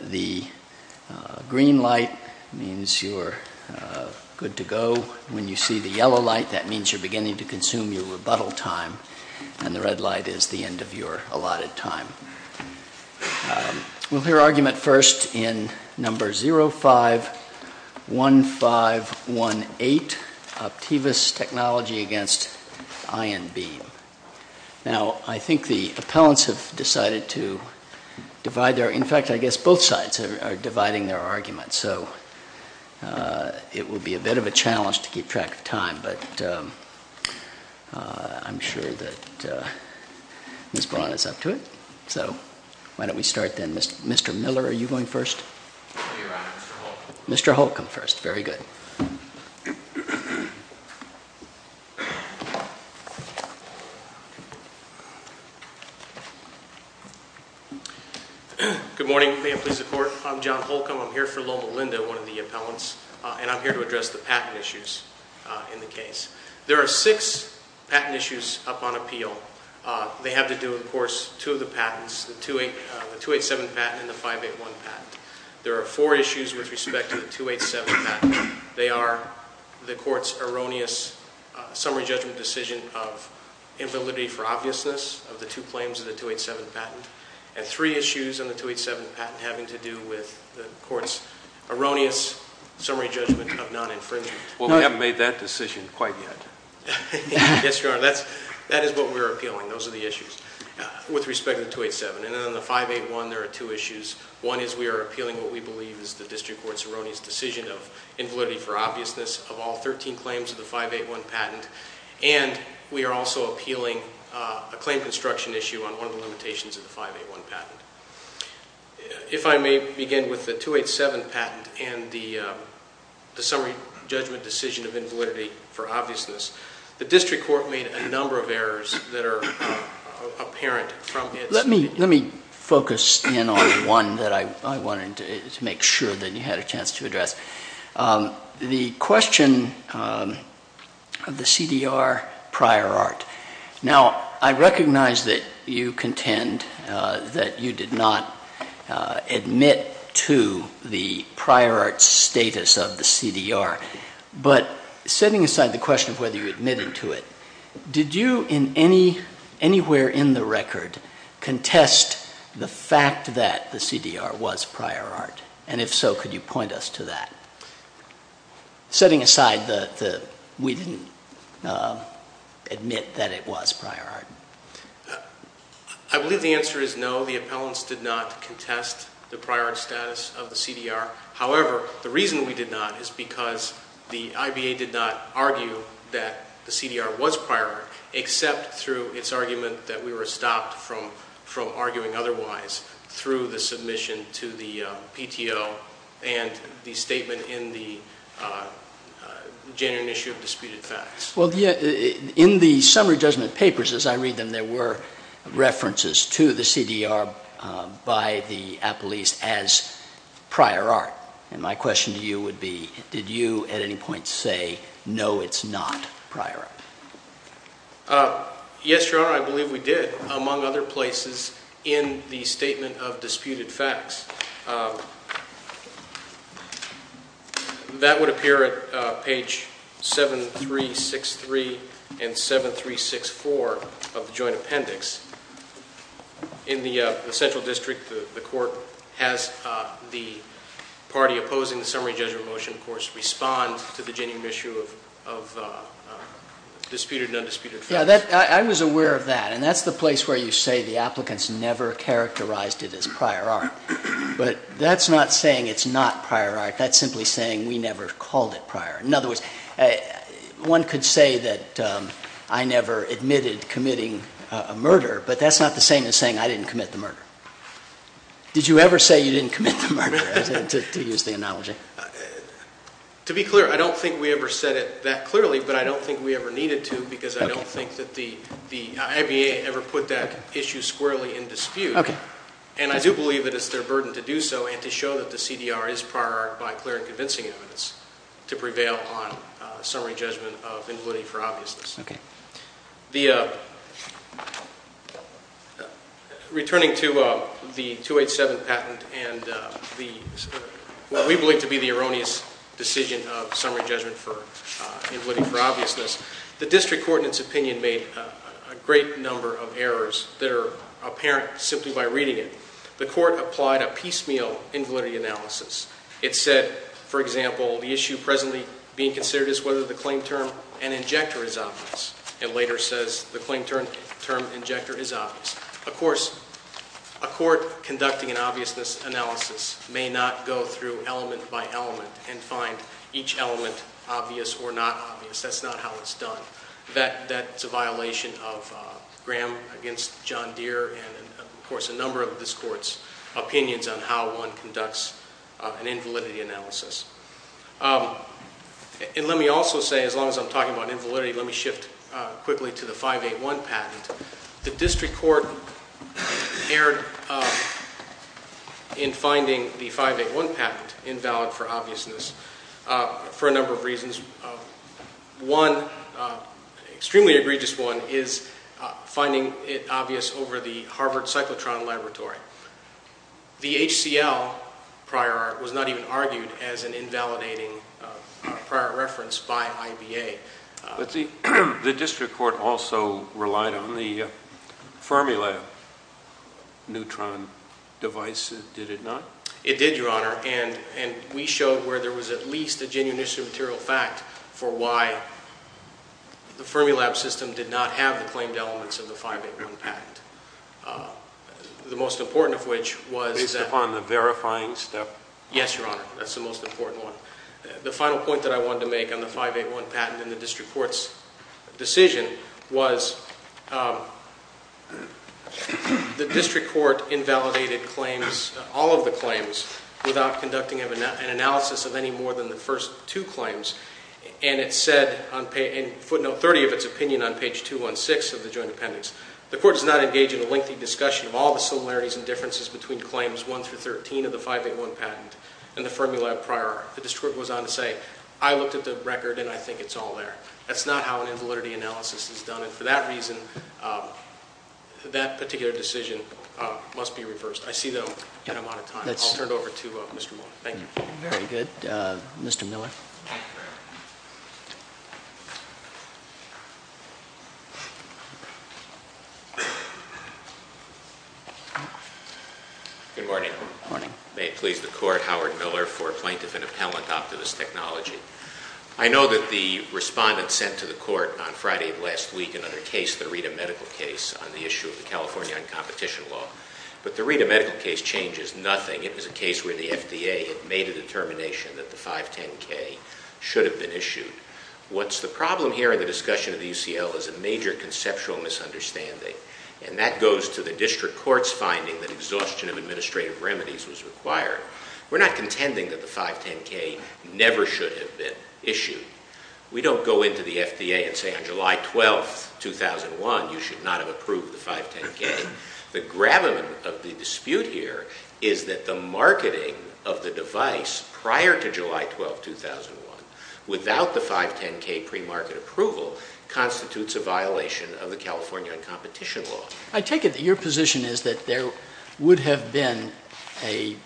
The green light means you're good to go. When you see the yellow light, that means you're beginning to consume your rebuttal time. And the red light is the end of your allotted time. We'll hear argument first in No. 051518, Optivus Technology v. ION Beam. Now, I think the appellants have decided to divide their... In fact, I guess both sides are dividing their arguments. So it will be a bit of a challenge to keep track of time. But I'm sure that Ms. Braun is up to it. So why don't we start then. Mr. Miller, are you going first? I'll be around. Mr. Holcomb. Mr. Holcomb first. Very good. Good morning. May it please the Court. I'm John Holcomb. I'm here for Loma Linda, one of the appellants. And I'm here to address the patent issues in the case. There are six patent issues up on appeal. They have to do, of course, two of the patents, the 287 patent and the 581 patent. There are four issues with respect to the 287 patent. They are the Court's erroneous summary judgment decision of invalidity for obviousness of the two claims of the 287 patent. And three issues on the 287 patent having to do with the Court's erroneous summary judgment of non-infringement. Well, we haven't made that decision quite yet. Yes, Your Honor. That is what we're appealing. Those are the issues with respect to the 287. And then on the 581, there are two issues. One is we are appealing what we believe is the District Court's erroneous decision of invalidity for obviousness of all 13 claims of the 581 patent. And we are also appealing a claim construction issue on one of the limitations of the 581 patent. If I may begin with the 287 patent and the summary judgment decision of invalidity for obviousness, the District Court made a number of errors that are apparent from its opinion. Let me focus in on one that I wanted to make sure that you had a chance to address. The question of the CDR prior art. Now, I recognize that you contend that you did not admit to the prior art status of the CDR. But setting aside the question of whether you admitted to it, did you anywhere in the record contest the fact that the CDR was prior art? And if so, could you point us to that? Setting aside that we didn't admit that it was prior art. I believe the answer is no. The appellants did not contest the prior art status of the CDR. However, the reason we did not is because the IBA did not argue that the CDR was prior art, except through its argument that we were stopped from arguing otherwise through the submission to the PTO and the statement in the January issue of disputed facts. Well, in the summary judgment papers, as I read them, there were references to the CDR by the appellees as prior art. And my question to you would be, did you at any point say, no, it's not prior art? Yes, Your Honor, I believe we did, among other places, in the statement of disputed facts. That would appear at page 7363 and 7364 of the joint appendix. In the central district, the court has the party opposing the summary judgment motion, of course, respond to the January issue of disputed and undisputed facts. I was aware of that, and that's the place where you say the applicants never characterized it as prior art. But that's not saying it's not prior art. That's simply saying we never called it prior. In other words, one could say that I never admitted committing a murder, but that's not the same as saying I didn't commit the murder. Did you ever say you didn't commit the murder, to use the analogy? To be clear, I don't think we ever said it that clearly, but I don't think we ever needed to, because I don't think that the ABA ever put that issue squarely in dispute. And I do believe that it's their burden to do so and to show that the CDR is prior art by clear and convincing evidence to prevail on summary judgment of invalidity for obviousness. Returning to the 287 patent and what we believe to be the erroneous decision of summary judgment for invalidity for obviousness, the district court in its opinion made a great number of errors that are apparent simply by reading it. The court applied a piecemeal invalidity analysis. It said, for example, the issue presently being considered is whether the claim term and injector is obvious. It later says the claim term and injector is obvious. Of course, a court conducting an obviousness analysis may not go through element by element and find each element obvious or not obvious. That's not how it's done. That's a violation of Graham against John Deere and, of course, a number of this court's opinions on how one conducts an invalidity analysis. And let me also say, as long as I'm talking about invalidity, let me shift quickly to the 581 patent. The district court erred in finding the 581 patent invalid for obviousness for a number of reasons. One extremely egregious one is finding it obvious over the Harvard cyclotron laboratory. The HCL prior was not even argued as an invalidating prior reference by IBA. But the district court also relied on the Fermilab neutron device, did it not? It did, Your Honor. And we showed where there was at least a genuine issue of material fact for why the Fermilab system did not have the claimed elements of the 581 patent, the most important of which was that- Based upon the verifying step? Yes, Your Honor. That's the most important one. The final point that I wanted to make on the 581 patent and the district court's decision was the district court invalidated claims, all of the claims, without conducting an analysis of any more than the first two claims. And it said in footnote 30 of its opinion on page 216 of the joint appendix, the court does not engage in a lengthy discussion of all the similarities and differences between claims 1 through 13 of the 581 patent and the Fermilab prior. The district court goes on to say, I looked at the record and I think it's all there. That's not how an invalidity analysis is done. And for that reason, that particular decision must be reversed. I see that I'm out of time. I'll turn it over to Mr. Moore. Thank you. Very good. Mr. Miller. Good morning. Good morning. May it please the court, Howard Miller for Plaintiff and Appellant, Optimist Technology. I know that the respondent sent to the court on Friday of last week another case, the Rita medical case, on the issue of the California competition law. But the Rita medical case changes nothing. It was a case where the FDA had made a determination that the 510K should have been issued. What's the problem here in the discussion of the UCL is a major conceptual misunderstanding. And that goes to the district court's finding that exhaustion of administrative remedies was required. We're not contending that the 510K never should have been issued. We don't go into the FDA and say on July 12th, 2001, you should not have approved the 510K. The gravamen of the dispute here is that the marketing of the device prior to July 12th, 2001, without the 510K pre-market approval, constitutes a violation of the California competition law. I take it that your position is that there would have been a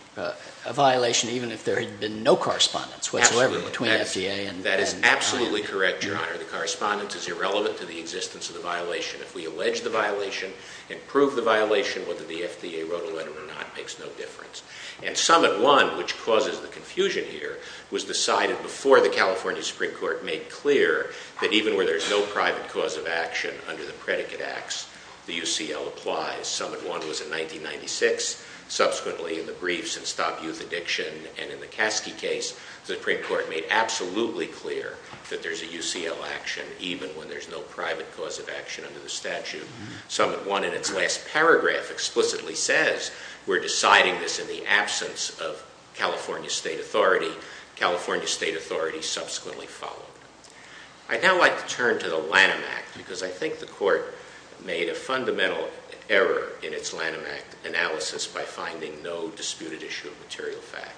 violation even if there had been no correspondence whatsoever between FDA and the client. Absolutely. That is absolutely correct, Your Honor. The correspondence is irrelevant to the existence of the violation. If we allege the violation and prove the violation, whether the FDA wrote a letter or not makes no difference. And Summit 1, which causes the confusion here, was decided before the California Supreme Court made clear that even where there's no private cause of action under the predicate acts, the UCL applies. Summit 1 in its last paragraph explicitly says we're deciding this in the absence of California state authority. California state authority subsequently followed. I'd now like to turn to the Lanham Act because I think the Court made a fundamental error in its Lanham Act analysis by finding no disputed issue of material fact.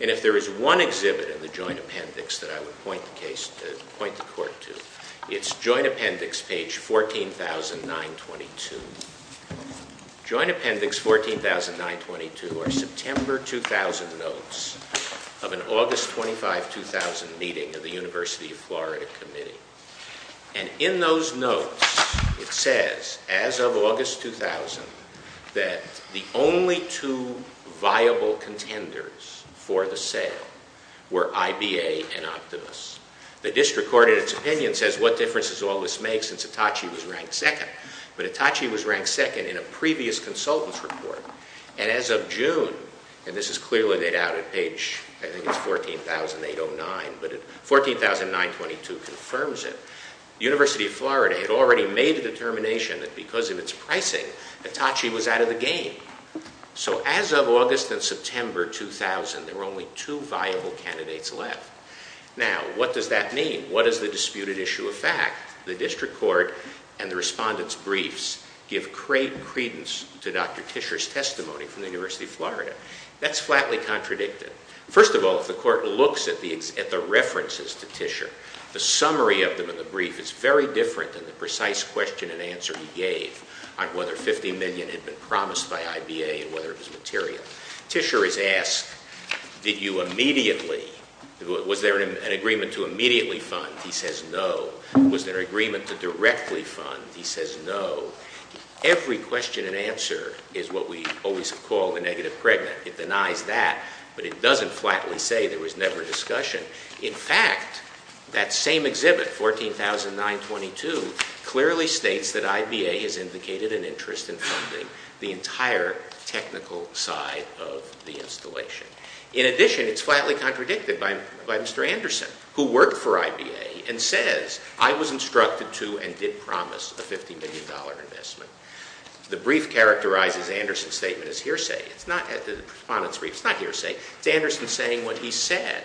And if there is one exhibit in the joint appendix that I would point the Court to, it's joint appendix page 14,922. Joint appendix 14,922 are September 2000 notes of an August 25, 2000 meeting of the University of Florida committee. And in those notes, it says, as of August 2000, that the only two viable contenders for the sale were IBA and Optimus. The district court in its opinion says what difference does all this make since Hitachi was ranked second? But Hitachi was ranked second in a previous consultant's report. And as of June, and this is clearly dated out at page, I think it's 14,809, but 14,922 confirms it. University of Florida had already made a determination that because of its pricing, Hitachi was out of the game. So as of August and September 2000, there were only two viable candidates left. Now, what does that mean? What is the disputed issue of fact? The district court and the respondent's briefs give great credence to Dr. Tischer's testimony from the University of Florida. That's flatly contradicted. First of all, if the court looks at the references to Tischer, the summary of them in the brief is very different than the precise question and answer he gave on whether $50 million had been promised by IBA and whether it was material. Tischer is asked, did you immediately, was there an agreement to immediately fund? He says no. Was there an agreement to directly fund? He says no. Every question and answer is what we always call the negative pregnant. It denies that, but it doesn't flatly say there was never discussion. In fact, that same exhibit, 14,922, clearly states that IBA has indicated an interest in funding the entire technical side of the installation. In addition, it's flatly contradicted by Mr. Anderson, who worked for IBA, and says, I was instructed to and did promise a $50 million investment. The brief characterizes Anderson's statement as hearsay. It's not the respondent's brief. It's not hearsay. It's Anderson saying what he said.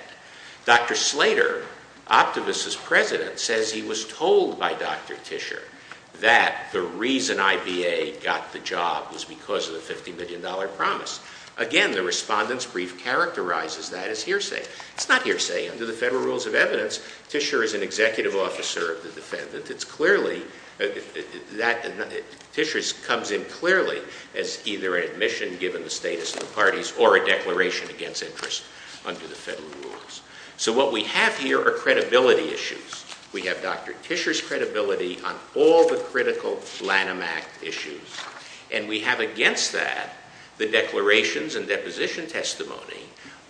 Dr. Slater, Optivus' president, says he was told by Dr. Tischer that the reason IBA got the job was because of the $50 million promise. Again, the respondent's brief characterizes that as hearsay. It's not hearsay. Under the Federal Rules of Evidence, Tischer is an executive officer of the defendant. It's clearly that Tischer comes in clearly as either an admission given the status of the parties or a declaration against interest under the Federal Rules. So what we have here are credibility issues. We have Dr. Tischer's credibility on all the critical Lanham Act issues. And we have against that the declarations and deposition testimony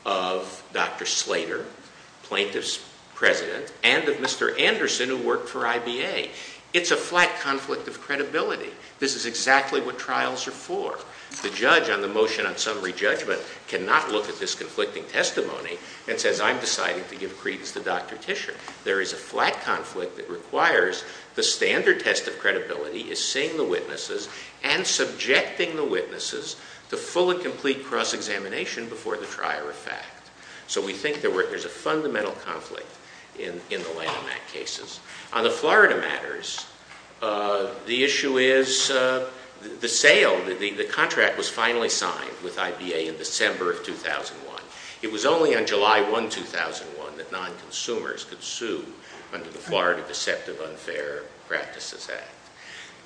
of Dr. Slater, plaintiff's president, and of Mr. Anderson, who worked for IBA. It's a flat conflict of credibility. This is exactly what trials are for. The judge on the motion on summary judgment cannot look at this conflicting testimony and says, I'm deciding to give credence to Dr. Tischer. There is a flat conflict that requires the standard test of credibility is seeing the witnesses and subjecting the witnesses to full and complete cross-examination before the trier of fact. So we think there's a fundamental conflict in the Lanham Act cases. On the Florida matters, the issue is the sale, the contract was finally signed with IBA in December of 2001. It was only on July 1, 2001, that non-consumers could sue under the Florida Deceptive Unfair Practices Act.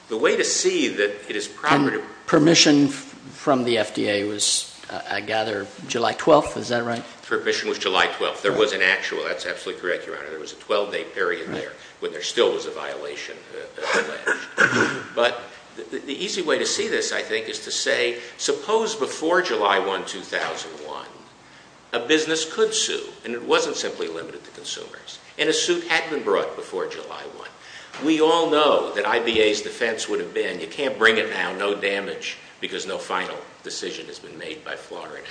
The way to see that it is proper to... And permission from the FDA was, I gather, July 12th, is that right? Permission was July 12th. There was an actual, that's absolutely correct, Your Honor. There was a 12-day period there when there still was a violation. But the easy way to see this, I think, is to say, suppose before July 1, 2001, a business could sue, and it wasn't simply limited to consumers, and a suit had been brought before July 1. We all know that IBA's defense would have been, you can't bring it now, no damage, because no final decision has been made by Florida.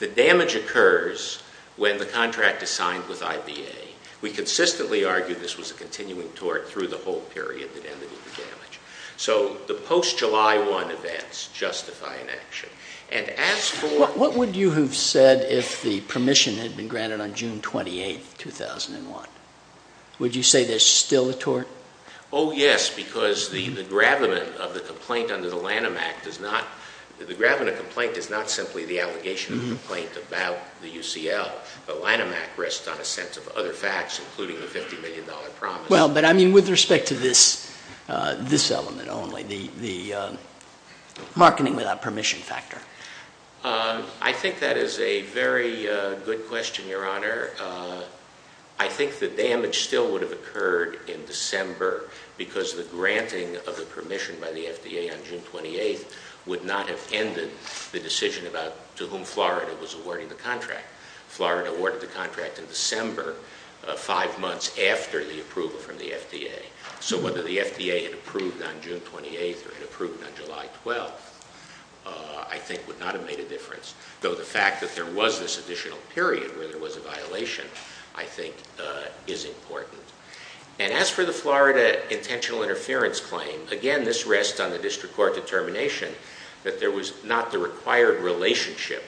The damage occurs when the contract is signed with IBA. We consistently argue this was a continuing tort through the whole period that ended the damage. So the post-July 1 events justify an action. And as for... What would you have said if the permission had been granted on June 28th, 2001? Would you say there's still a tort? Oh, yes, because the gravamen of the complaint under the Lanham Act does not... The gravamen of the complaint is not simply the allegation of the complaint about the UCL. The Lanham Act rests on a sense of other facts, including the $50 million promise. Well, but I mean with respect to this element only, the marketing without permission factor. I think that is a very good question, Your Honor. I think the damage still would have occurred in December, because the granting of the permission by the FDA on June 28th would not have ended the decision about to whom Florida was awarding the contract. Florida awarded the contract in December, five months after the approval from the FDA. So whether the FDA had approved on June 28th or had approved on July 12th, I think would not have made a difference. Though the fact that there was this additional period where there was a violation, I think, is important. And as for the Florida intentional interference claim, again, this rests on the district court determination that there was not the required relationship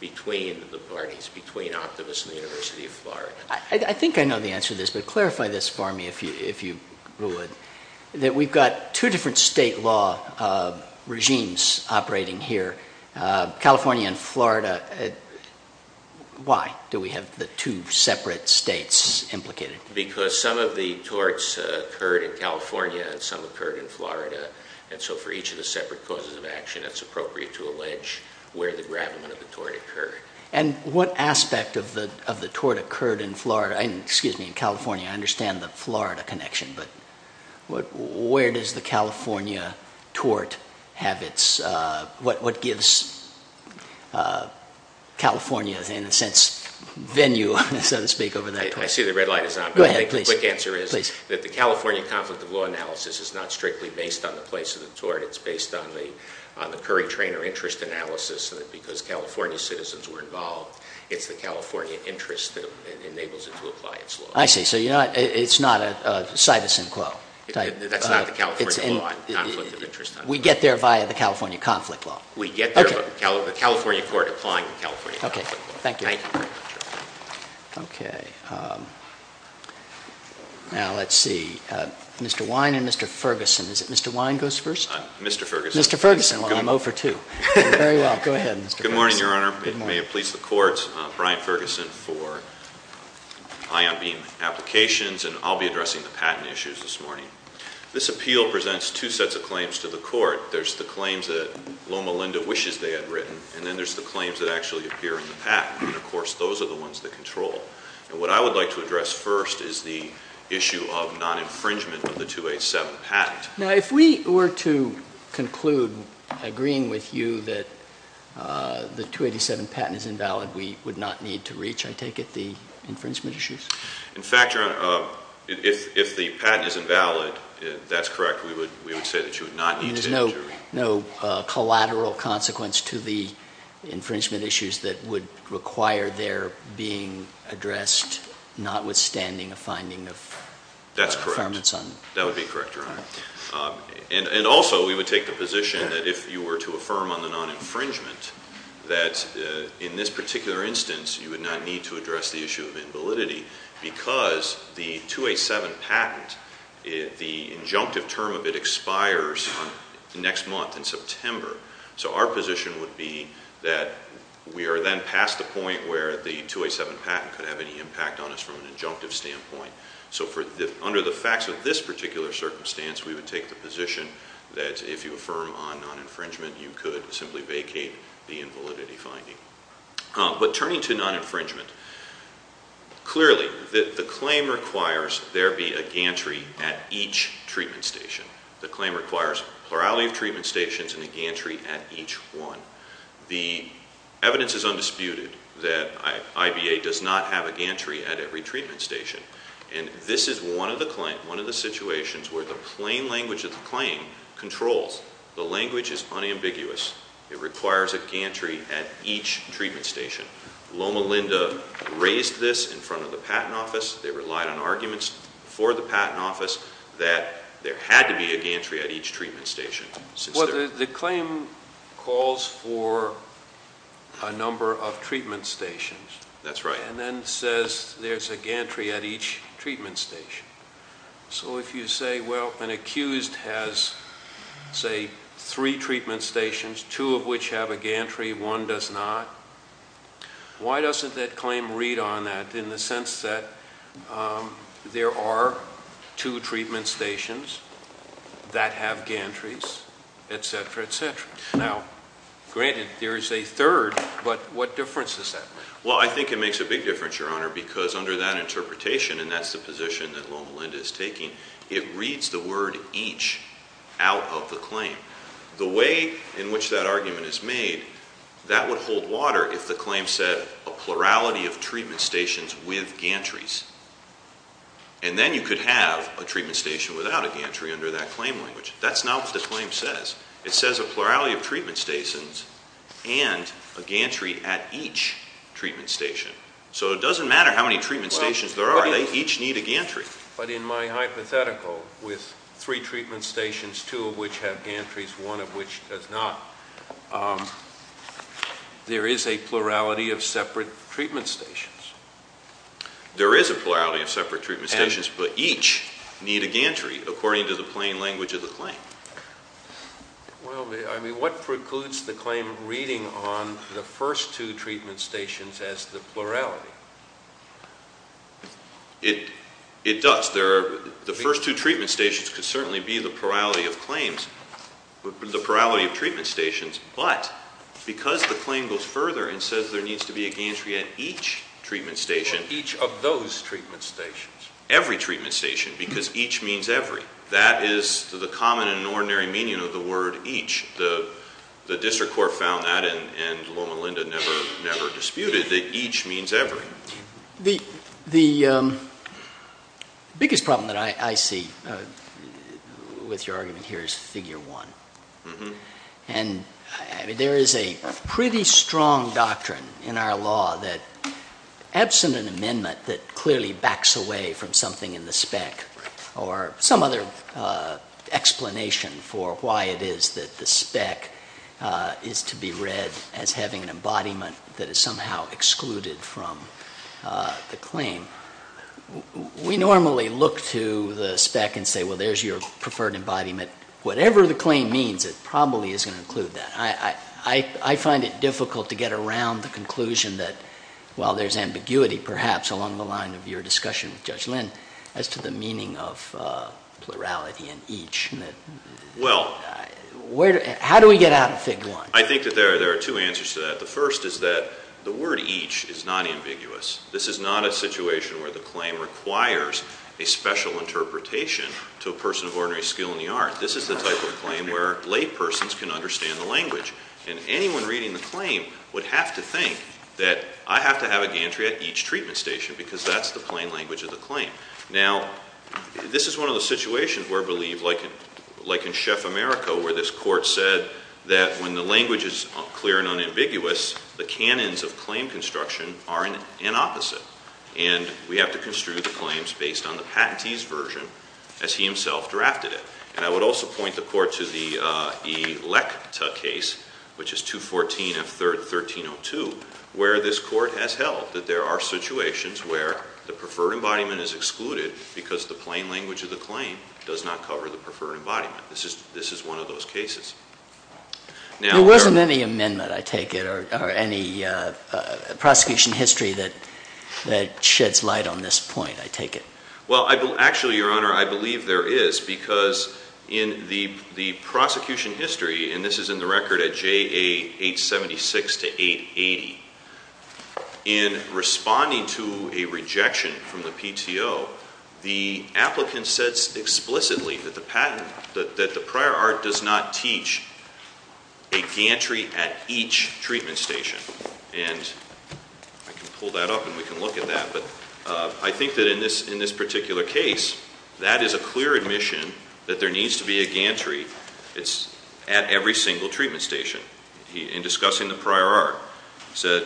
between the parties, between Optimus and the University of Florida. I think I know the answer to this, but clarify this for me, if you would. That we've got two different state law regimes operating here, California and Florida. Why do we have the two separate states implicated? Because some of the torts occurred in California and some occurred in Florida. And so for each of the separate causes of action, it's appropriate to allege where the gravamen of the tort occurred. And what aspect of the tort occurred in Florida? Excuse me, in California. I understand the Florida connection, but where does the California tort have its, what gives California, in a sense, venue, so to speak, over that tort? I see the red light is on. Go ahead, please. The quick answer is that the California conflict of law analysis is not strictly based on the place of the tort. It's based on the Currie-Trainor interest analysis. And because California citizens were involved, it's the California interest that enables it to apply its law. I see. So you're not, it's not a cytosine quo. That's not the California law, conflict of interest. We get there via the California conflict law. We get there via the California court applying the California conflict law. Okay, thank you. Thank you very much, Your Honor. Okay. Now, let's see. Mr. Wine and Mr. Ferguson. Is it Mr. Wine goes first? Mr. Ferguson. Mr. Ferguson. Well, I'm 0 for 2. Very well. Go ahead, Mr. Ferguson. Good morning, Your Honor. May it please the Court. Brian Ferguson for Ion Beam Applications, and I'll be addressing the patent issues this morning. This appeal presents two sets of claims to the Court. There's the claims that Loma Linda wishes they had written, and then there's the claims that actually appear in the patent. And, of course, those are the ones that control. And what I would like to address first is the issue of non-infringement of the 287 patent. Now, if we were to conclude agreeing with you that the 287 patent is invalid, we would not need to reach, I take it, the infringement issues? In fact, Your Honor, if the patent is invalid, that's correct. We would say that you would not need to. No collateral consequence to the infringement issues that would require their being addressed, notwithstanding a finding of performance on them? That's correct. That would be correct, Your Honor. And also we would take the position that if you were to affirm on the non-infringement, that in this particular instance you would not need to address the issue of invalidity because the 287 patent, the injunctive term of it expires next month in September. So our position would be that we are then past the point where the 287 patent could have any impact on us from an injunctive standpoint. So under the facts of this particular circumstance, we would take the position that if you affirm on non-infringement, you could simply vacate the invalidity finding. But turning to non-infringement, clearly the claim requires there be a gantry at each treatment station. The claim requires a plurality of treatment stations and a gantry at each one. The evidence is undisputed that IBA does not have a gantry at every treatment station. And this is one of the claims, one of the situations where the plain language of the claim controls. The language is unambiguous. It requires a gantry at each treatment station. Loma Linda raised this in front of the Patent Office. They relied on arguments for the Patent Office that there had to be a gantry at each treatment station. Well, the claim calls for a number of treatment stations. That's right. And then says there's a gantry at each treatment station. So if you say, well, an accused has, say, three treatment stations, two of which have a gantry, one does not, why doesn't that claim read on that in the sense that there are two treatment stations that have gantries, et cetera, et cetera? Now, granted, there is a third, but what difference does that make? Well, I think it makes a big difference, Your Honor, because under that interpretation, and that's the position that Loma Linda is taking, it reads the word each out of the claim. The way in which that argument is made, that would hold water if the claim said a plurality of treatment stations with gantries. And then you could have a treatment station without a gantry under that claim language. That's not what the claim says. It says a plurality of treatment stations and a gantry at each treatment station. So it doesn't matter how many treatment stations there are. They each need a gantry. But in my hypothetical, with three treatment stations, two of which have gantries, one of which does not, there is a plurality of separate treatment stations. There is a plurality of separate treatment stations, but each need a gantry, according to the plain language of the claim. Well, I mean, what precludes the claim reading on the first two treatment stations as the plurality? It does. The first two treatment stations could certainly be the plurality of claims, the plurality of treatment stations, but because the claim goes further and says there needs to be a gantry at each treatment station. Each of those treatment stations. Every treatment station, because each means every. That is the common and ordinary meaning of the word each. The district court found that, and Loma Linda never disputed, that each means every. The biggest problem that I see with your argument here is figure one. And, I mean, there is a pretty strong doctrine in our law that, absent an amendment that clearly backs away from something in the spec, or some other explanation for why it is that the spec is to be read as having an embodiment that is somehow excluded from the claim, we normally look to the spec and say, well, there's your preferred embodiment. Whatever the claim means, it probably is going to include that. I find it difficult to get around the conclusion that, while there's ambiguity, perhaps, along the line of your discussion with Judge Lynn, as to the meaning of plurality and each. How do we get out of figure one? I think that there are two answers to that. The first is that the word each is not ambiguous. This is not a situation where the claim requires a special interpretation to a person of ordinary skill in the art. This is the type of claim where laypersons can understand the language. And anyone reading the claim would have to think that I have to have a gantry at each treatment station because that's the plain language of the claim. Now, this is one of the situations where I believe, like in Chef America, where this court said that when the language is clear and unambiguous, the canons of claim construction are an opposite. And we have to construe the claims based on the patentee's version as he himself drafted it. And I would also point the court to the Electa case, which is 214 of 1302, where this court has held that there are situations where the preferred embodiment is excluded because the plain language of the claim does not cover the preferred embodiment. This is one of those cases. There wasn't any amendment, I take it, or any prosecution history that sheds light on this point, I take it. Well, actually, Your Honor, I believe there is because in the prosecution history, and this is in the record at JA 876 to 880, in responding to a rejection from the PTO, the applicant says explicitly that the prior art does not teach a gantry at each treatment station. And I can pull that up and we can look at that. But I think that in this particular case, that is a clear admission that there needs to be a gantry at every single treatment station. In discussing the prior art, he said...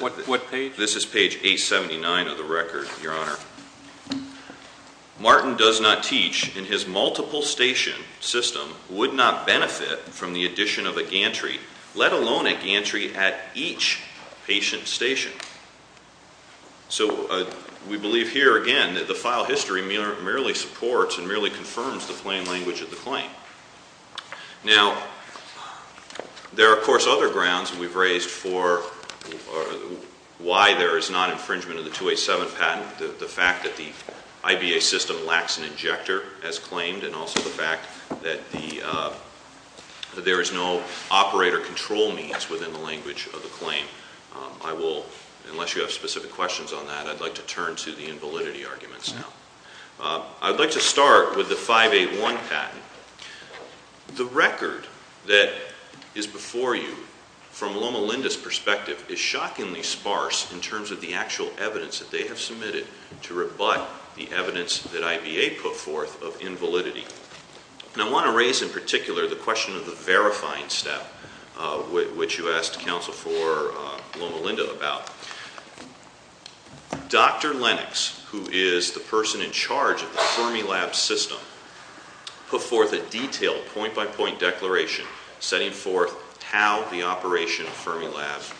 What page? This is page 879 of the record, Your Honor. Martin does not teach and his multiple station system would not benefit from the addition of a gantry, let alone a gantry at each patient station. So we believe here, again, that the file history merely supports and merely confirms the plain language of the claim. Now, there are, of course, other grounds we've raised for why there is not infringement of the 287 patent, the fact that the IBA system lacks an injector, as claimed, and also the fact that there is no operator control means within the language of the claim. I will, unless you have specific questions on that, I'd like to turn to the invalidity arguments now. I'd like to start with the 581 patent. The record that is before you, from Loma Linda's perspective, is shockingly sparse in terms of the actual evidence that they have submitted to rebut the evidence that IBA put forth of invalidity. And I want to raise, in particular, the question of the verifying step, which you asked counsel for Loma Linda about. Dr. Lennox, who is the person in charge of the Fermilab system, put forth a detailed point-by-point declaration setting forth how the operation of Fermilab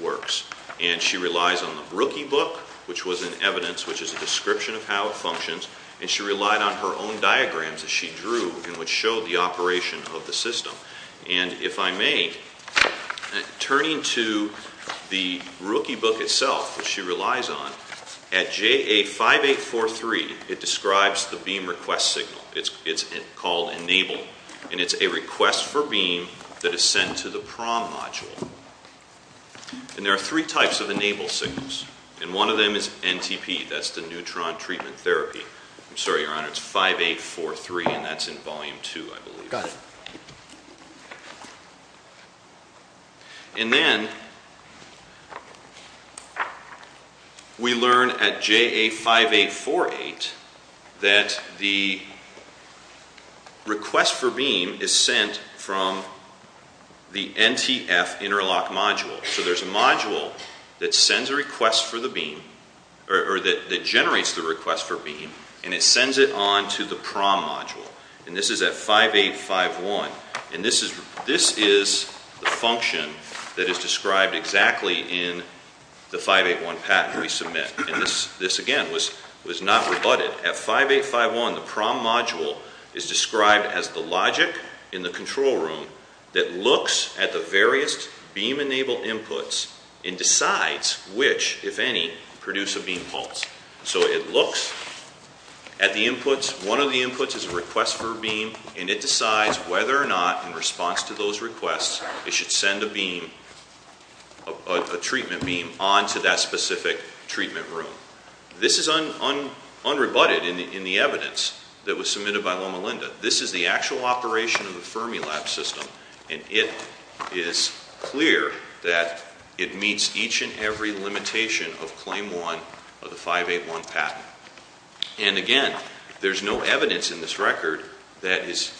works. And she relies on the Rookie Book, which was an evidence, which is a description of how it functions, and she relied on her own diagrams that she drew in which showed the operation of the system. And if I may, turning to the Rookie Book itself, which she relies on, at JA 5843, it describes the beam request signal. It's called enable, and it's a request for beam that is sent to the PROM module. And there are three types of enable signals, and one of them is NTP. That's the neutron treatment therapy. I'm sorry, Your Honor, it's 5843, and that's in Volume 2, I believe. Got it. And then we learn at JA 5848 that the request for beam is sent from the NTF interlock module. So there's a module that sends a request for the beam, or that generates the request for beam, and it sends it on to the PROM module. And this is at 5851, and this is the function that is described exactly in the 581 patent we submit. And this, again, was not rebutted. At 5851, the PROM module is described as the logic in the control room that looks at the various beam enable inputs and decides which, if any, produce a beam pulse. So it looks at the inputs. One of the inputs is a request for a beam, and it decides whether or not in response to those requests it should send a beam, a treatment beam, on to that specific treatment room. This is unrebutted in the evidence that was submitted by Loma Linda. This is the actual operation of the Fermilab system, and it is clear that it meets each and every limitation of Claim 1 of the 581 patent. And, again, there's no evidence in this record that is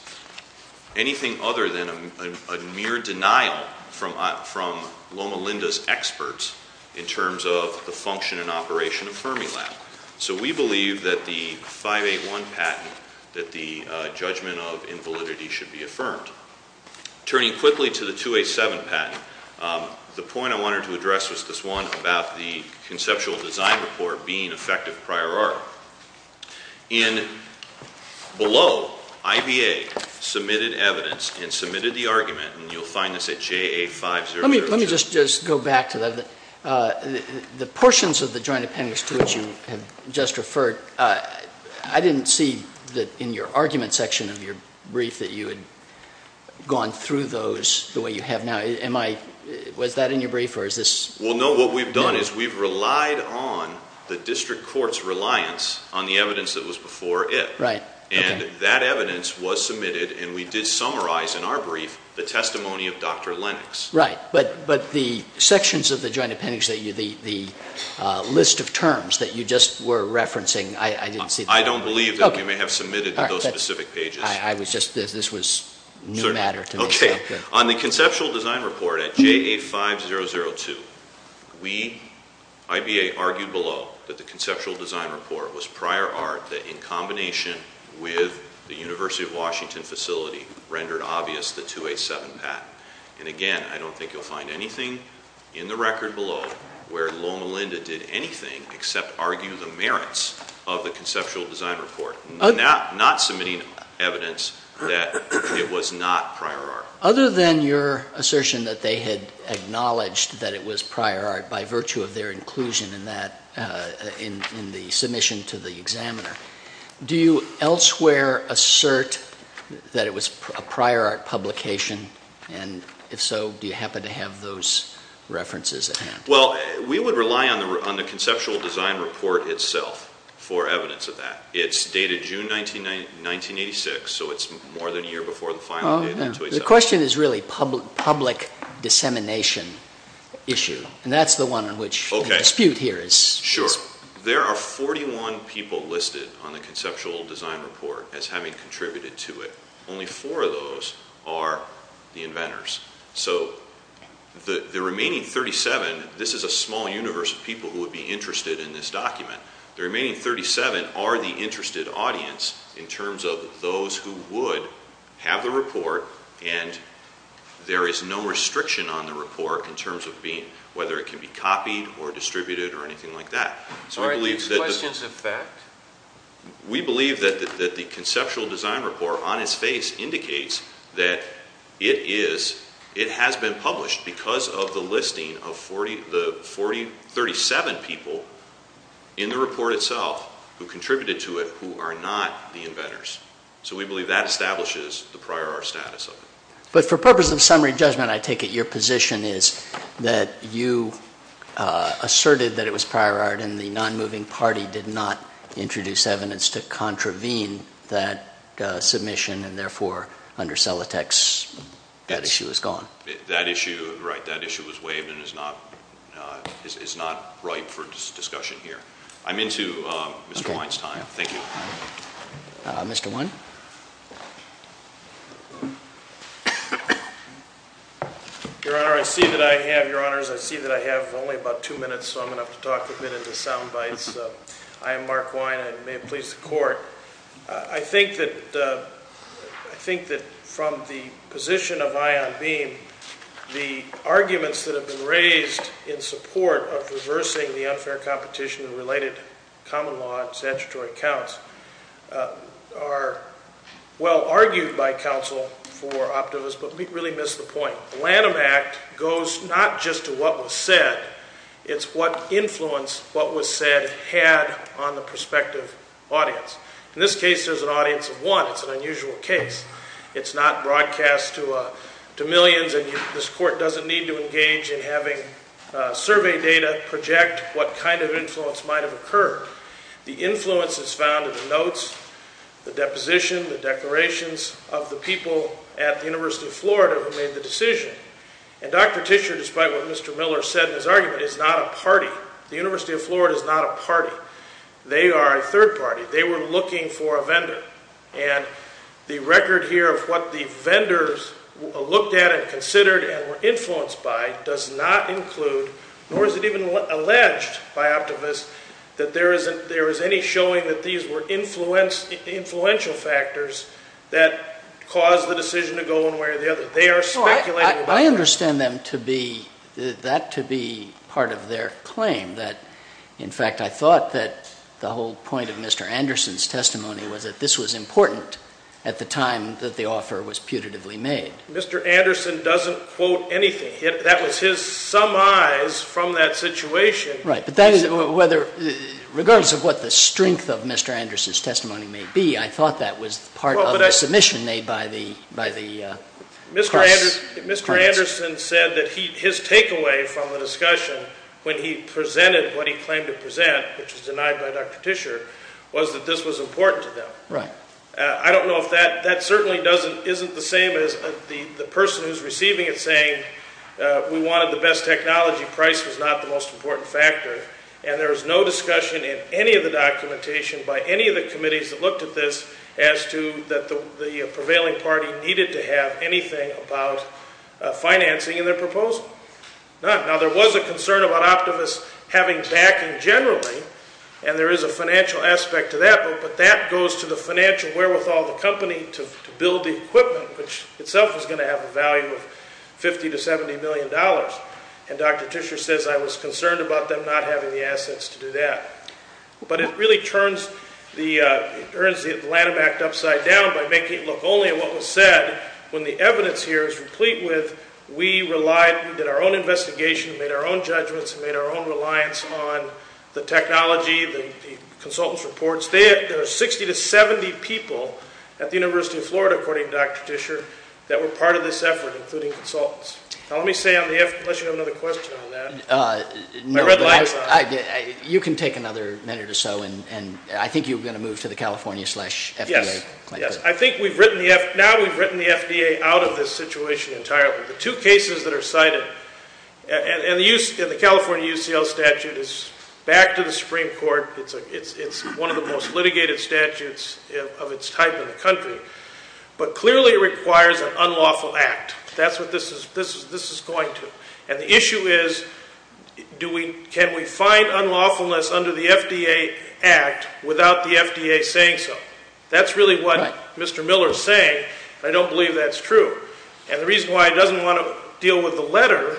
anything other than a mere denial from Loma Linda's experts in terms of the function and operation of Fermilab. So we believe that the 581 patent, that the judgment of invalidity should be affirmed. Turning quickly to the 287 patent, the point I wanted to address was this one about the conceptual design report being effective prior art. In below, IBA submitted evidence and submitted the argument, and you'll find this at JA5002. Let me just go back to that. The portions of the joint appendix to which you have just referred, I didn't see that in your argument section of your brief that you had gone through those the way you have now. Was that in your brief? Well, no. What we've done is we've relied on the district court's reliance on the evidence that was before it. And that evidence was submitted, and we did summarize in our brief the testimony of Dr. Lennox. Right. But the sections of the joint appendix, the list of terms that you just were referencing, I didn't see that. I don't believe that we may have submitted those specific pages. This was new matter to me. Okay. On the conceptual design report at JA5002, we, IBA, argued below that the conceptual design report was prior art that, in combination with the University of Washington facility, rendered obvious the 287 patent. And, again, I don't think you'll find anything in the record below where Loma Linda did anything except argue the merits of the conceptual design report, not submitting evidence that it was not prior art. Other than your assertion that they had acknowledged that it was prior art by virtue of their inclusion in that, in the submission to the examiner, do you elsewhere assert that it was a prior art publication? And, if so, do you happen to have those references at hand? Well, we would rely on the conceptual design report itself for evidence of that. It's dated June 1986, so it's more than a year before the final date. The question is really public dissemination issue. And that's the one in which the dispute here is. Sure. There are 41 people listed on the conceptual design report as having contributed to it. Only four of those are the inventors. So the remaining 37, this is a small universe of people who would be interested in this document, the remaining 37 are the interested audience in terms of those who would have the report and there is no restriction on the report in terms of whether it can be copied or distributed or anything like that. All right. Any questions of fact? We believe that the conceptual design report on its face indicates that it has been published because of the listing of the 37 people in the report itself who contributed to it who are not the inventors. So we believe that establishes the prior art status of it. But for purpose of summary judgment, I take it your position is that you asserted that it was prior art and the non-moving party did not introduce evidence to contravene that submission and therefore under Celotex that issue is gone. That issue, right, that issue was waived and is not ripe for discussion here. I'm into Mr. Weinstein. Thank you. Mr. Wein? Your Honor, I see that I have, Your Honors, I see that I have only about two minutes so I'm going to have to talk a bit into sound bites. I am Mark Wein and may it please the Court. I think that from the position of Ion Beam, the arguments that have been raised in support of reversing the unfair competition and related common law and statutory counts are well argued by counsel for optimists but we really miss the point. The Lanham Act goes not just to what was said, it's what influence what was said had on the prospective audience. In this case there's an audience of one, it's an unusual case. It's not broadcast to millions and this Court doesn't need to engage in having survey data and project what kind of influence might have occurred. The influence is found in the notes, the deposition, the declarations of the people at the University of Florida who made the decision and Dr. Tischer, despite what Mr. Miller said in his argument, is not a party. The University of Florida is not a party. They are a third party. They were looking for a vendor and the record here of what the vendors looked at and considered and were influenced by does not include, nor is it even alleged by optimists, that there is any showing that these were influential factors that caused the decision to go one way or the other. They are speculating. I understand that to be part of their claim. In fact, I thought that the whole point of Mr. Anderson's testimony was that this was important at the time that the offer was putatively made. Mr. Anderson doesn't quote anything. That was his summise from that situation. Right. But that is whether, regardless of what the strength of Mr. Anderson's testimony may be, I thought that was part of the submission made by the House. Mr. Anderson said that his takeaway from the discussion when he presented what he claimed to present, which was denied by Dr. Tischer, was that this was important to them. Right. I don't know if that certainly isn't the same as the person who is receiving it saying we wanted the best technology, price was not the most important factor, and there was no discussion in any of the documentation by any of the committees that looked at this as to that the prevailing party needed to have anything about financing in their proposal. None. Now, there was a concern about optimists having backing generally, and there is a financial aspect to that, but that goes to the financial wherewithal of the company to build the equipment, which itself is going to have a value of $50 to $70 million. And Dr. Tischer says I was concerned about them not having the assets to do that. But it really turns the Lanham Act upside down by making it look only at what was said when the evidence here is complete with we relied, we did our own investigation, we made our own judgments, we made our own reliance on the technology, the consultants' reports. There are 60 to 70 people at the University of Florida, according to Dr. Tischer, that were part of this effort, including consultants. Now, let me say on the FDA, unless you have another question on that. My red light is on. You can take another minute or so, and I think you're going to move to the California FDA. Yes. Yes. I think now we've written the FDA out of this situation entirely. The two cases that are cited, and the California UCL statute is back to the Supreme Court. It's one of the most litigated statutes of its type in the country. But clearly it requires an unlawful act. That's what this is going to. And the issue is can we find unlawfulness under the FDA Act without the FDA saying so? That's really what Mr. Miller is saying, and I don't believe that's true. And the reason why he doesn't want to deal with the letter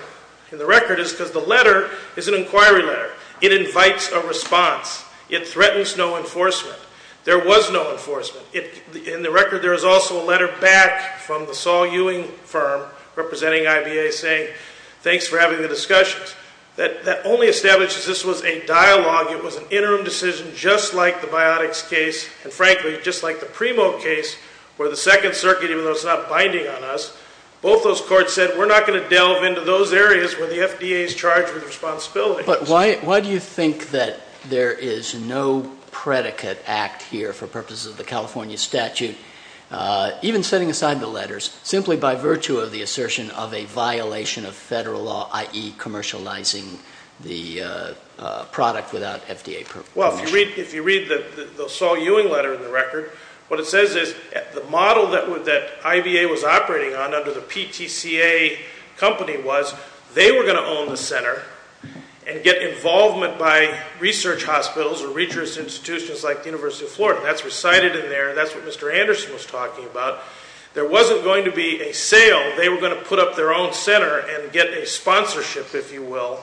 in the record is because the letter is an inquiry letter. It invites a response. It threatens no enforcement. There was no enforcement. In the record, there is also a letter back from the Saul Ewing firm, representing IBA, saying thanks for having the discussions. That only establishes this was a dialogue. It was an interim decision, just like the Biotics case, and, frankly, just like the Primo case where the Second Circuit, even though it's not binding on us, both those courts said we're not going to delve into those areas where the FDA is charged with responsibility. But why do you think that there is no predicate act here for purposes of the California statute, even setting aside the letters, simply by virtue of the assertion of a violation of federal law, i.e. commercializing the product without FDA permission? Well, if you read the Saul Ewing letter in the record, what it says is the model that IBA was operating on under the PTCA company was they were going to own the center and get involvement by research hospitals or research institutions like the University of Florida. That's recited in there. That's what Mr. Anderson was talking about. There wasn't going to be a sale. They were going to put up their own center and get a sponsorship, if you will,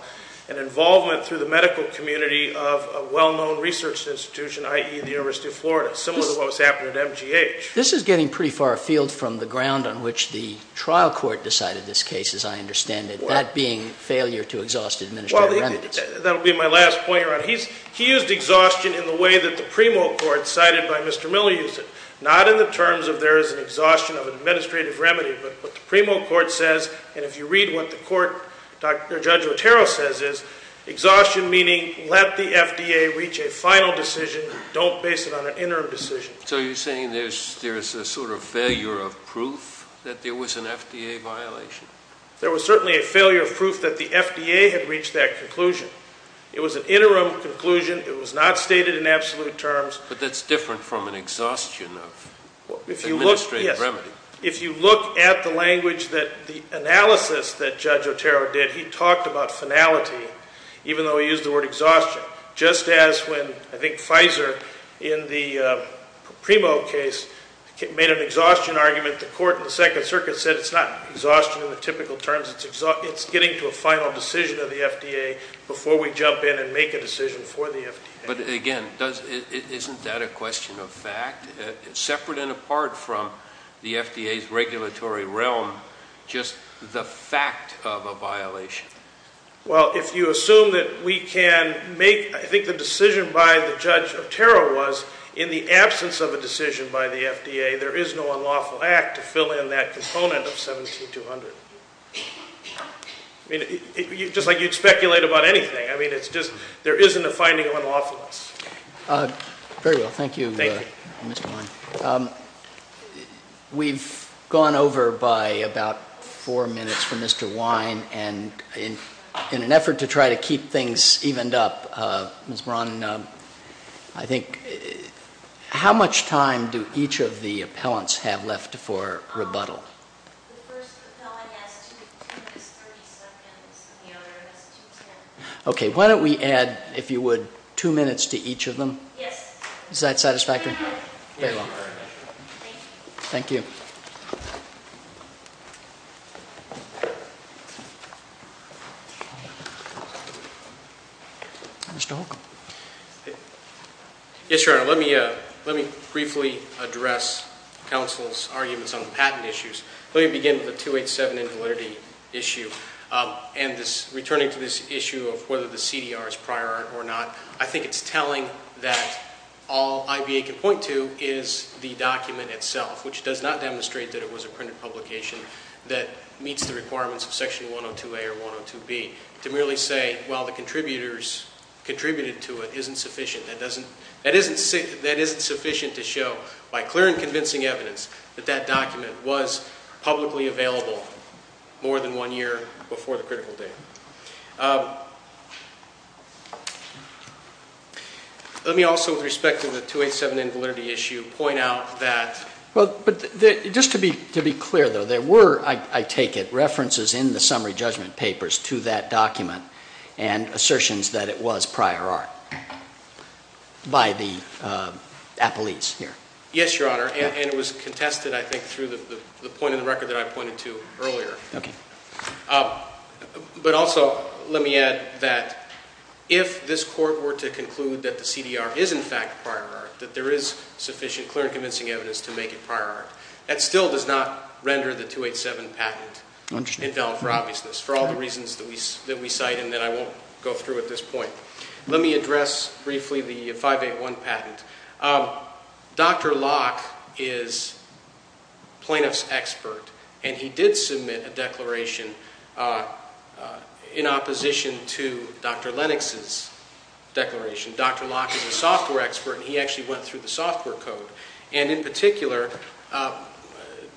and involvement through the medical community of a well-known research institution, i.e. the University of Florida, similar to what was happening at MGH. This is getting pretty far afield from the ground on which the trial court decided this case, as I understand it, that being failure to exhaust administrative remedies. That will be my last point, Your Honor. He used exhaustion in the way that the Primo court cited by Mr. Miller used it, not in the terms of there is an exhaustion of an administrative remedy, but what the Primo court says, and if you read what the court, Judge Otero says, is exhaustion meaning let the FDA reach a final decision, don't base it on an interim decision. So you're saying there's a sort of failure of proof that there was an FDA violation? There was certainly a failure of proof that the FDA had reached that conclusion. It was an interim conclusion. It was not stated in absolute terms. But that's different from an exhaustion of administrative remedy. If you look at the language that the analysis that Judge Otero did, he talked about finality, even though he used the word exhaustion. Just as when, I think, Pfizer in the Primo case made an exhaustion argument, the court in the Second Circuit said it's not exhaustion in the typical terms. It's getting to a final decision of the FDA before we jump in and make a decision for the FDA. But, again, isn't that a question of fact? Isn't it, separate and apart from the FDA's regulatory realm, just the fact of a violation? Well, if you assume that we can make, I think the decision by the Judge Otero was in the absence of a decision by the FDA, there is no unlawful act to fill in that component of 17200. I mean, just like you'd speculate about anything. I mean, it's just there isn't a finding of unlawfulness. Very well. Thank you, Mr. Wine. We've gone over by about four minutes for Mr. Wine, and in an effort to try to keep things evened up, Ms. Braun, I think, how much time do each of the appellants have left for rebuttal? The first appellant has two minutes and 30 seconds, and the other has two seconds. Okay. Why don't we add, if you would, two minutes to each of them? Yes. Is that satisfactory? Very well. Thank you. Thank you. Mr. Holcomb. Yes, Your Honor. Let me briefly address counsel's arguments on the patent issues. Let me begin with the 287 invalidity issue. And returning to this issue of whether the CDR is prior or not, I think it's telling that all IBA can point to is the document itself, which does not demonstrate that it was a printed publication that meets the requirements of Section 102A or 102B. To merely say, well, the contributors contributed to it isn't sufficient. That isn't sufficient to show, by clear and convincing evidence, that that document was publicly available more than one year before the critical date. Let me also, with respect to the 287 invalidity issue, point out that – Well, just to be clear, though, there were, I take it, references in the summary judgment papers to that document and assertions that it was prior art by the appellees here. Yes, Your Honor. And it was contested, I think, through the point in the record that I pointed to earlier. But also, let me add that if this Court were to conclude that the CDR is, in fact, prior art, that there is sufficient clear and convincing evidence to make it prior art, that still does not render the 287 patent invalid for obviousness, for all the reasons that we cite and that I won't go through at this point. Let me address briefly the 581 patent. Dr. Locke is a plaintiff's expert, and he did submit a declaration in opposition to Dr. Lennox's declaration. Dr. Locke is a software expert, and he actually went through the software code. And in particular,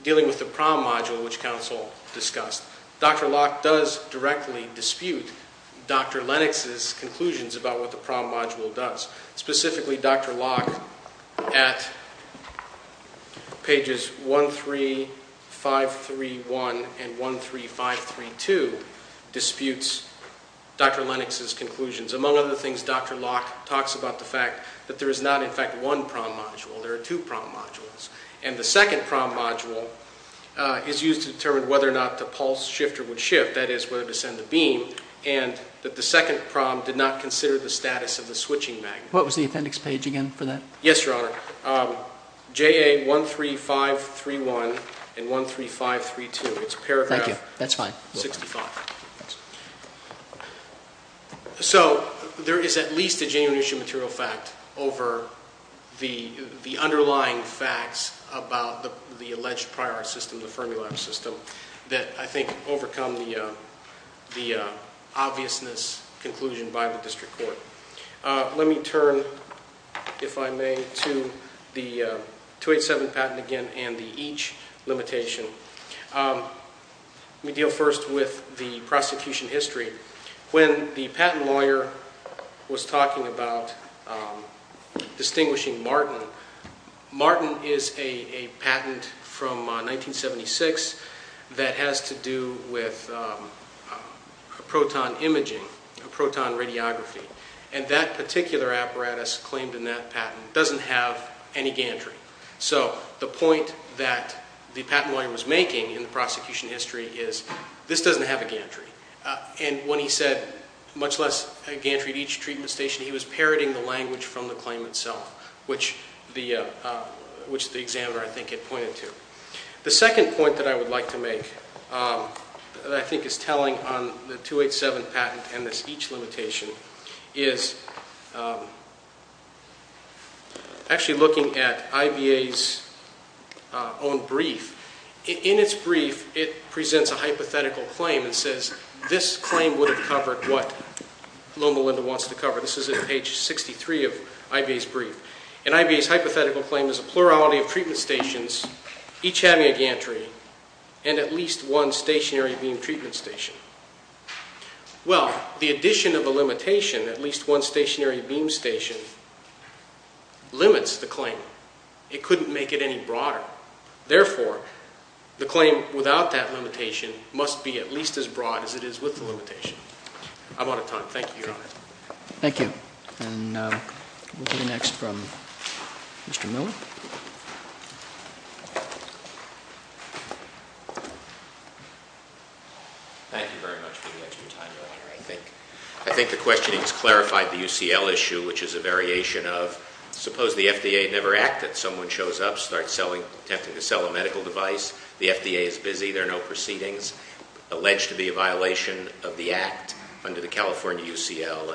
dealing with the prom module, which counsel discussed, Dr. Locke does directly dispute Dr. Lennox's conclusions about what the prom module does. Specifically, Dr. Locke, at pages 13531 and 13532, disputes Dr. Lennox's conclusions. Among other things, Dr. Locke talks about the fact that there is not, in fact, one prom module. There are two prom modules. And the second prom module is used to determine whether or not the pulse shifter would shift, that is, whether to send the beam, and that the second prom did not consider the status of the switching magnet. What was the appendix page again for that? Yes, Your Honor. JA 13531 and 13532. It's paragraph 65. So there is at least a genuine issue of material fact over the underlying facts about the alleged prior art system, the Fermi lab system, that I think overcome the obviousness conclusion by the district court. Let me turn, if I may, to the 287 patent again and the each limitation. Let me deal first with the prosecution history. When the patent lawyer was talking about distinguishing Martin, Martin is a patent from 1976 that has to do with proton imaging, proton radiography. And that particular apparatus claimed in that patent doesn't have any gantry. So the point that the patent lawyer was making in the prosecution history is this doesn't have a gantry. And when he said, much less a gantry at each treatment station, he was parroting the language from the claim itself, which the examiner, I think, had pointed to. The second point that I would like to make that I think is telling on the 287 patent and this each limitation is actually looking at IBA's own brief. In its brief, it presents a hypothetical claim and says this claim would have covered what Loma Linda wants to cover. This is at page 63 of IBA's brief. And IBA's hypothetical claim is a plurality of treatment stations, each having a gantry, and at least one stationary beam treatment station. Well, the addition of a limitation, at least one stationary beam station, limits the claim. It couldn't make it any broader. Therefore, the claim without that limitation must be at least as broad as it is with the limitation. I'm out of time. Thank you, Your Honor. Thank you. And we'll hear next from Mr. Miller. Thank you very much for the extra time, Your Honor. I think the questionings clarified the UCL issue, which is a variation of suppose the FDA never acted. Someone shows up, starts attempting to sell a medical device. The FDA is busy. There are no proceedings. Alleged to be a violation of the act under the California UCL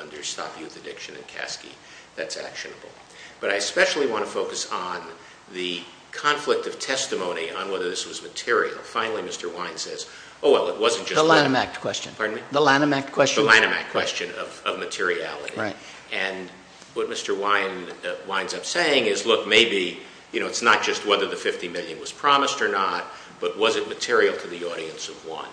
under Stop Youth Addiction and KASCI. That's actionable. But I especially want to focus on the conflict of testimony on whether this was material. Finally, Mr. Wine says, oh, well, it wasn't just that. The Lanham Act question. Pardon me? The Lanham Act question. The Lanham Act question of materiality. Right. And what Mr. Wine winds up saying is, look, maybe, you know, it's not just whether the $50 million was promised or not, but was it material to the audience of one?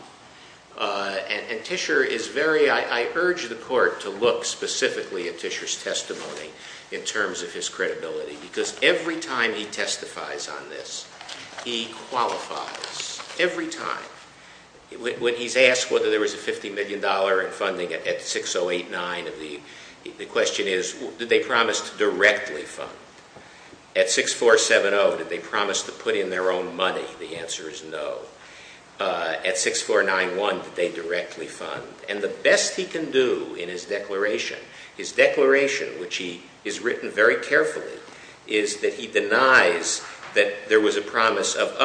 And Tischer is very – I urge the Court to look specifically at Tischer's testimony in terms of his credibility, because every time he testifies on this, he qualifies. Every time. When he's asked whether there was a $50 million in funding at 6089, the question is, did they promise to directly fund? At 6470, did they promise to put in their own money? The answer is no. At 6491, did they directly fund? And the best he can do in his declaration, his declaration, which he has written very carefully, is that he denies that there was a promise of,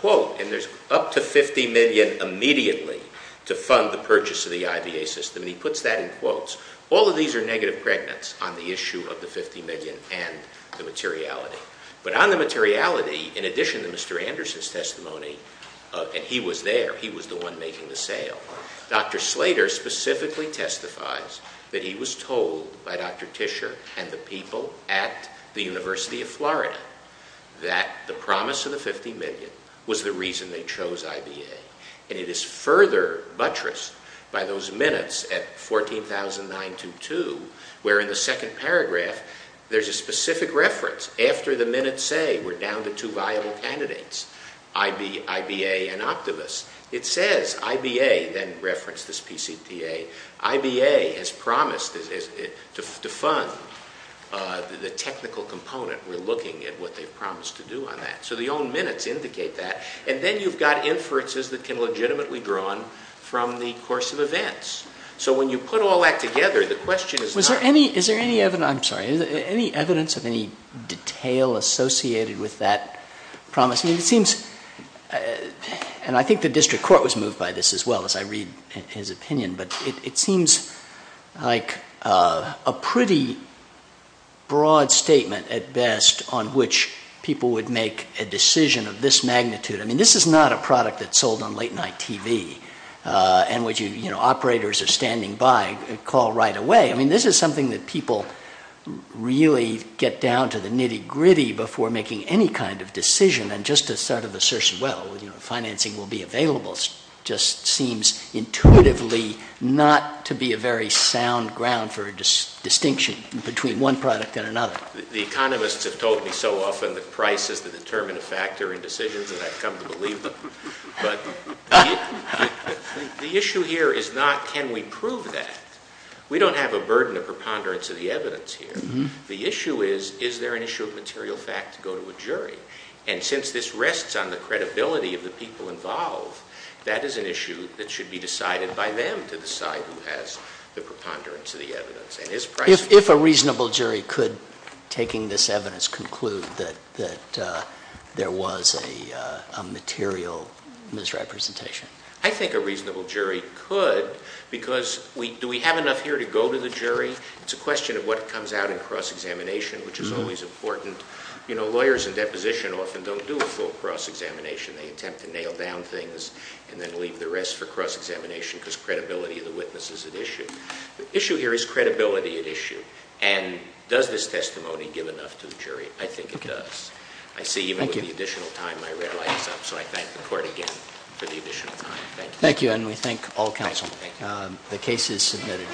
quote, and there's up to $50 million immediately to fund the purchase of the IVA system. He puts that in quotes. All of these are negative pregnants on the issue of the $50 million and the materiality. But on the materiality, in addition to Mr. Anderson's testimony, and he was there, he was the one making the sale, Dr. Slater specifically testifies that he was told by Dr. Tischer and the people at the University of Florida that the promise of the $50 million was the reason they chose IVA. And it is further buttressed by those minutes at 14,922, where in the second paragraph there's a specific reference. After the minutes say we're down to two viable candidates, IBA and Optivus. It says IBA then referenced this PCTA. IBA has promised to fund the technical component. We're looking at what they've promised to do on that. So the own minutes indicate that. And then you've got inferences that can legitimately be drawn from the course of events. So when you put all that together, the question is not... Is there any evidence, I'm sorry, any evidence of any detail associated with that promise? It seems, and I think the district court was moved by this as well as I read his opinion, but it seems like a pretty broad statement at best on which people would make a decision of this magnitude. I mean, this is not a product that's sold on late night TV. And operators are standing by a call right away. I mean, this is something that people really get down to the nitty-gritty before making any kind of decision. And just to sort of assert, well, financing will be available, just seems intuitively not to be a very sound ground for distinction between one product and another. The economists have told me so often that price is the determinative factor in decisions, and I've come to believe them, but the issue here is not can we prove that. We don't have a burden of preponderance of the evidence here. The issue is, is there an issue of material fact to go to a jury? And since this rests on the credibility of the people involved, that is an issue that should be decided by them to decide who has the preponderance of the evidence. If a reasonable jury could, taking this evidence, conclude that there was a material misrepresentation. I think a reasonable jury could because do we have enough here to go to the jury? It's a question of what comes out in cross-examination, which is always important. You know, lawyers in deposition often don't do a full cross-examination. They attempt to nail down things and then leave the rest for cross-examination because credibility of the witness is at issue. The issue here is credibility at issue, and does this testimony give enough to the jury? I think it does. I see even with the additional time, my red light is up, so I thank the court again for the additional time. Thank you. Thank you, and we thank all counsel. The case is submitted.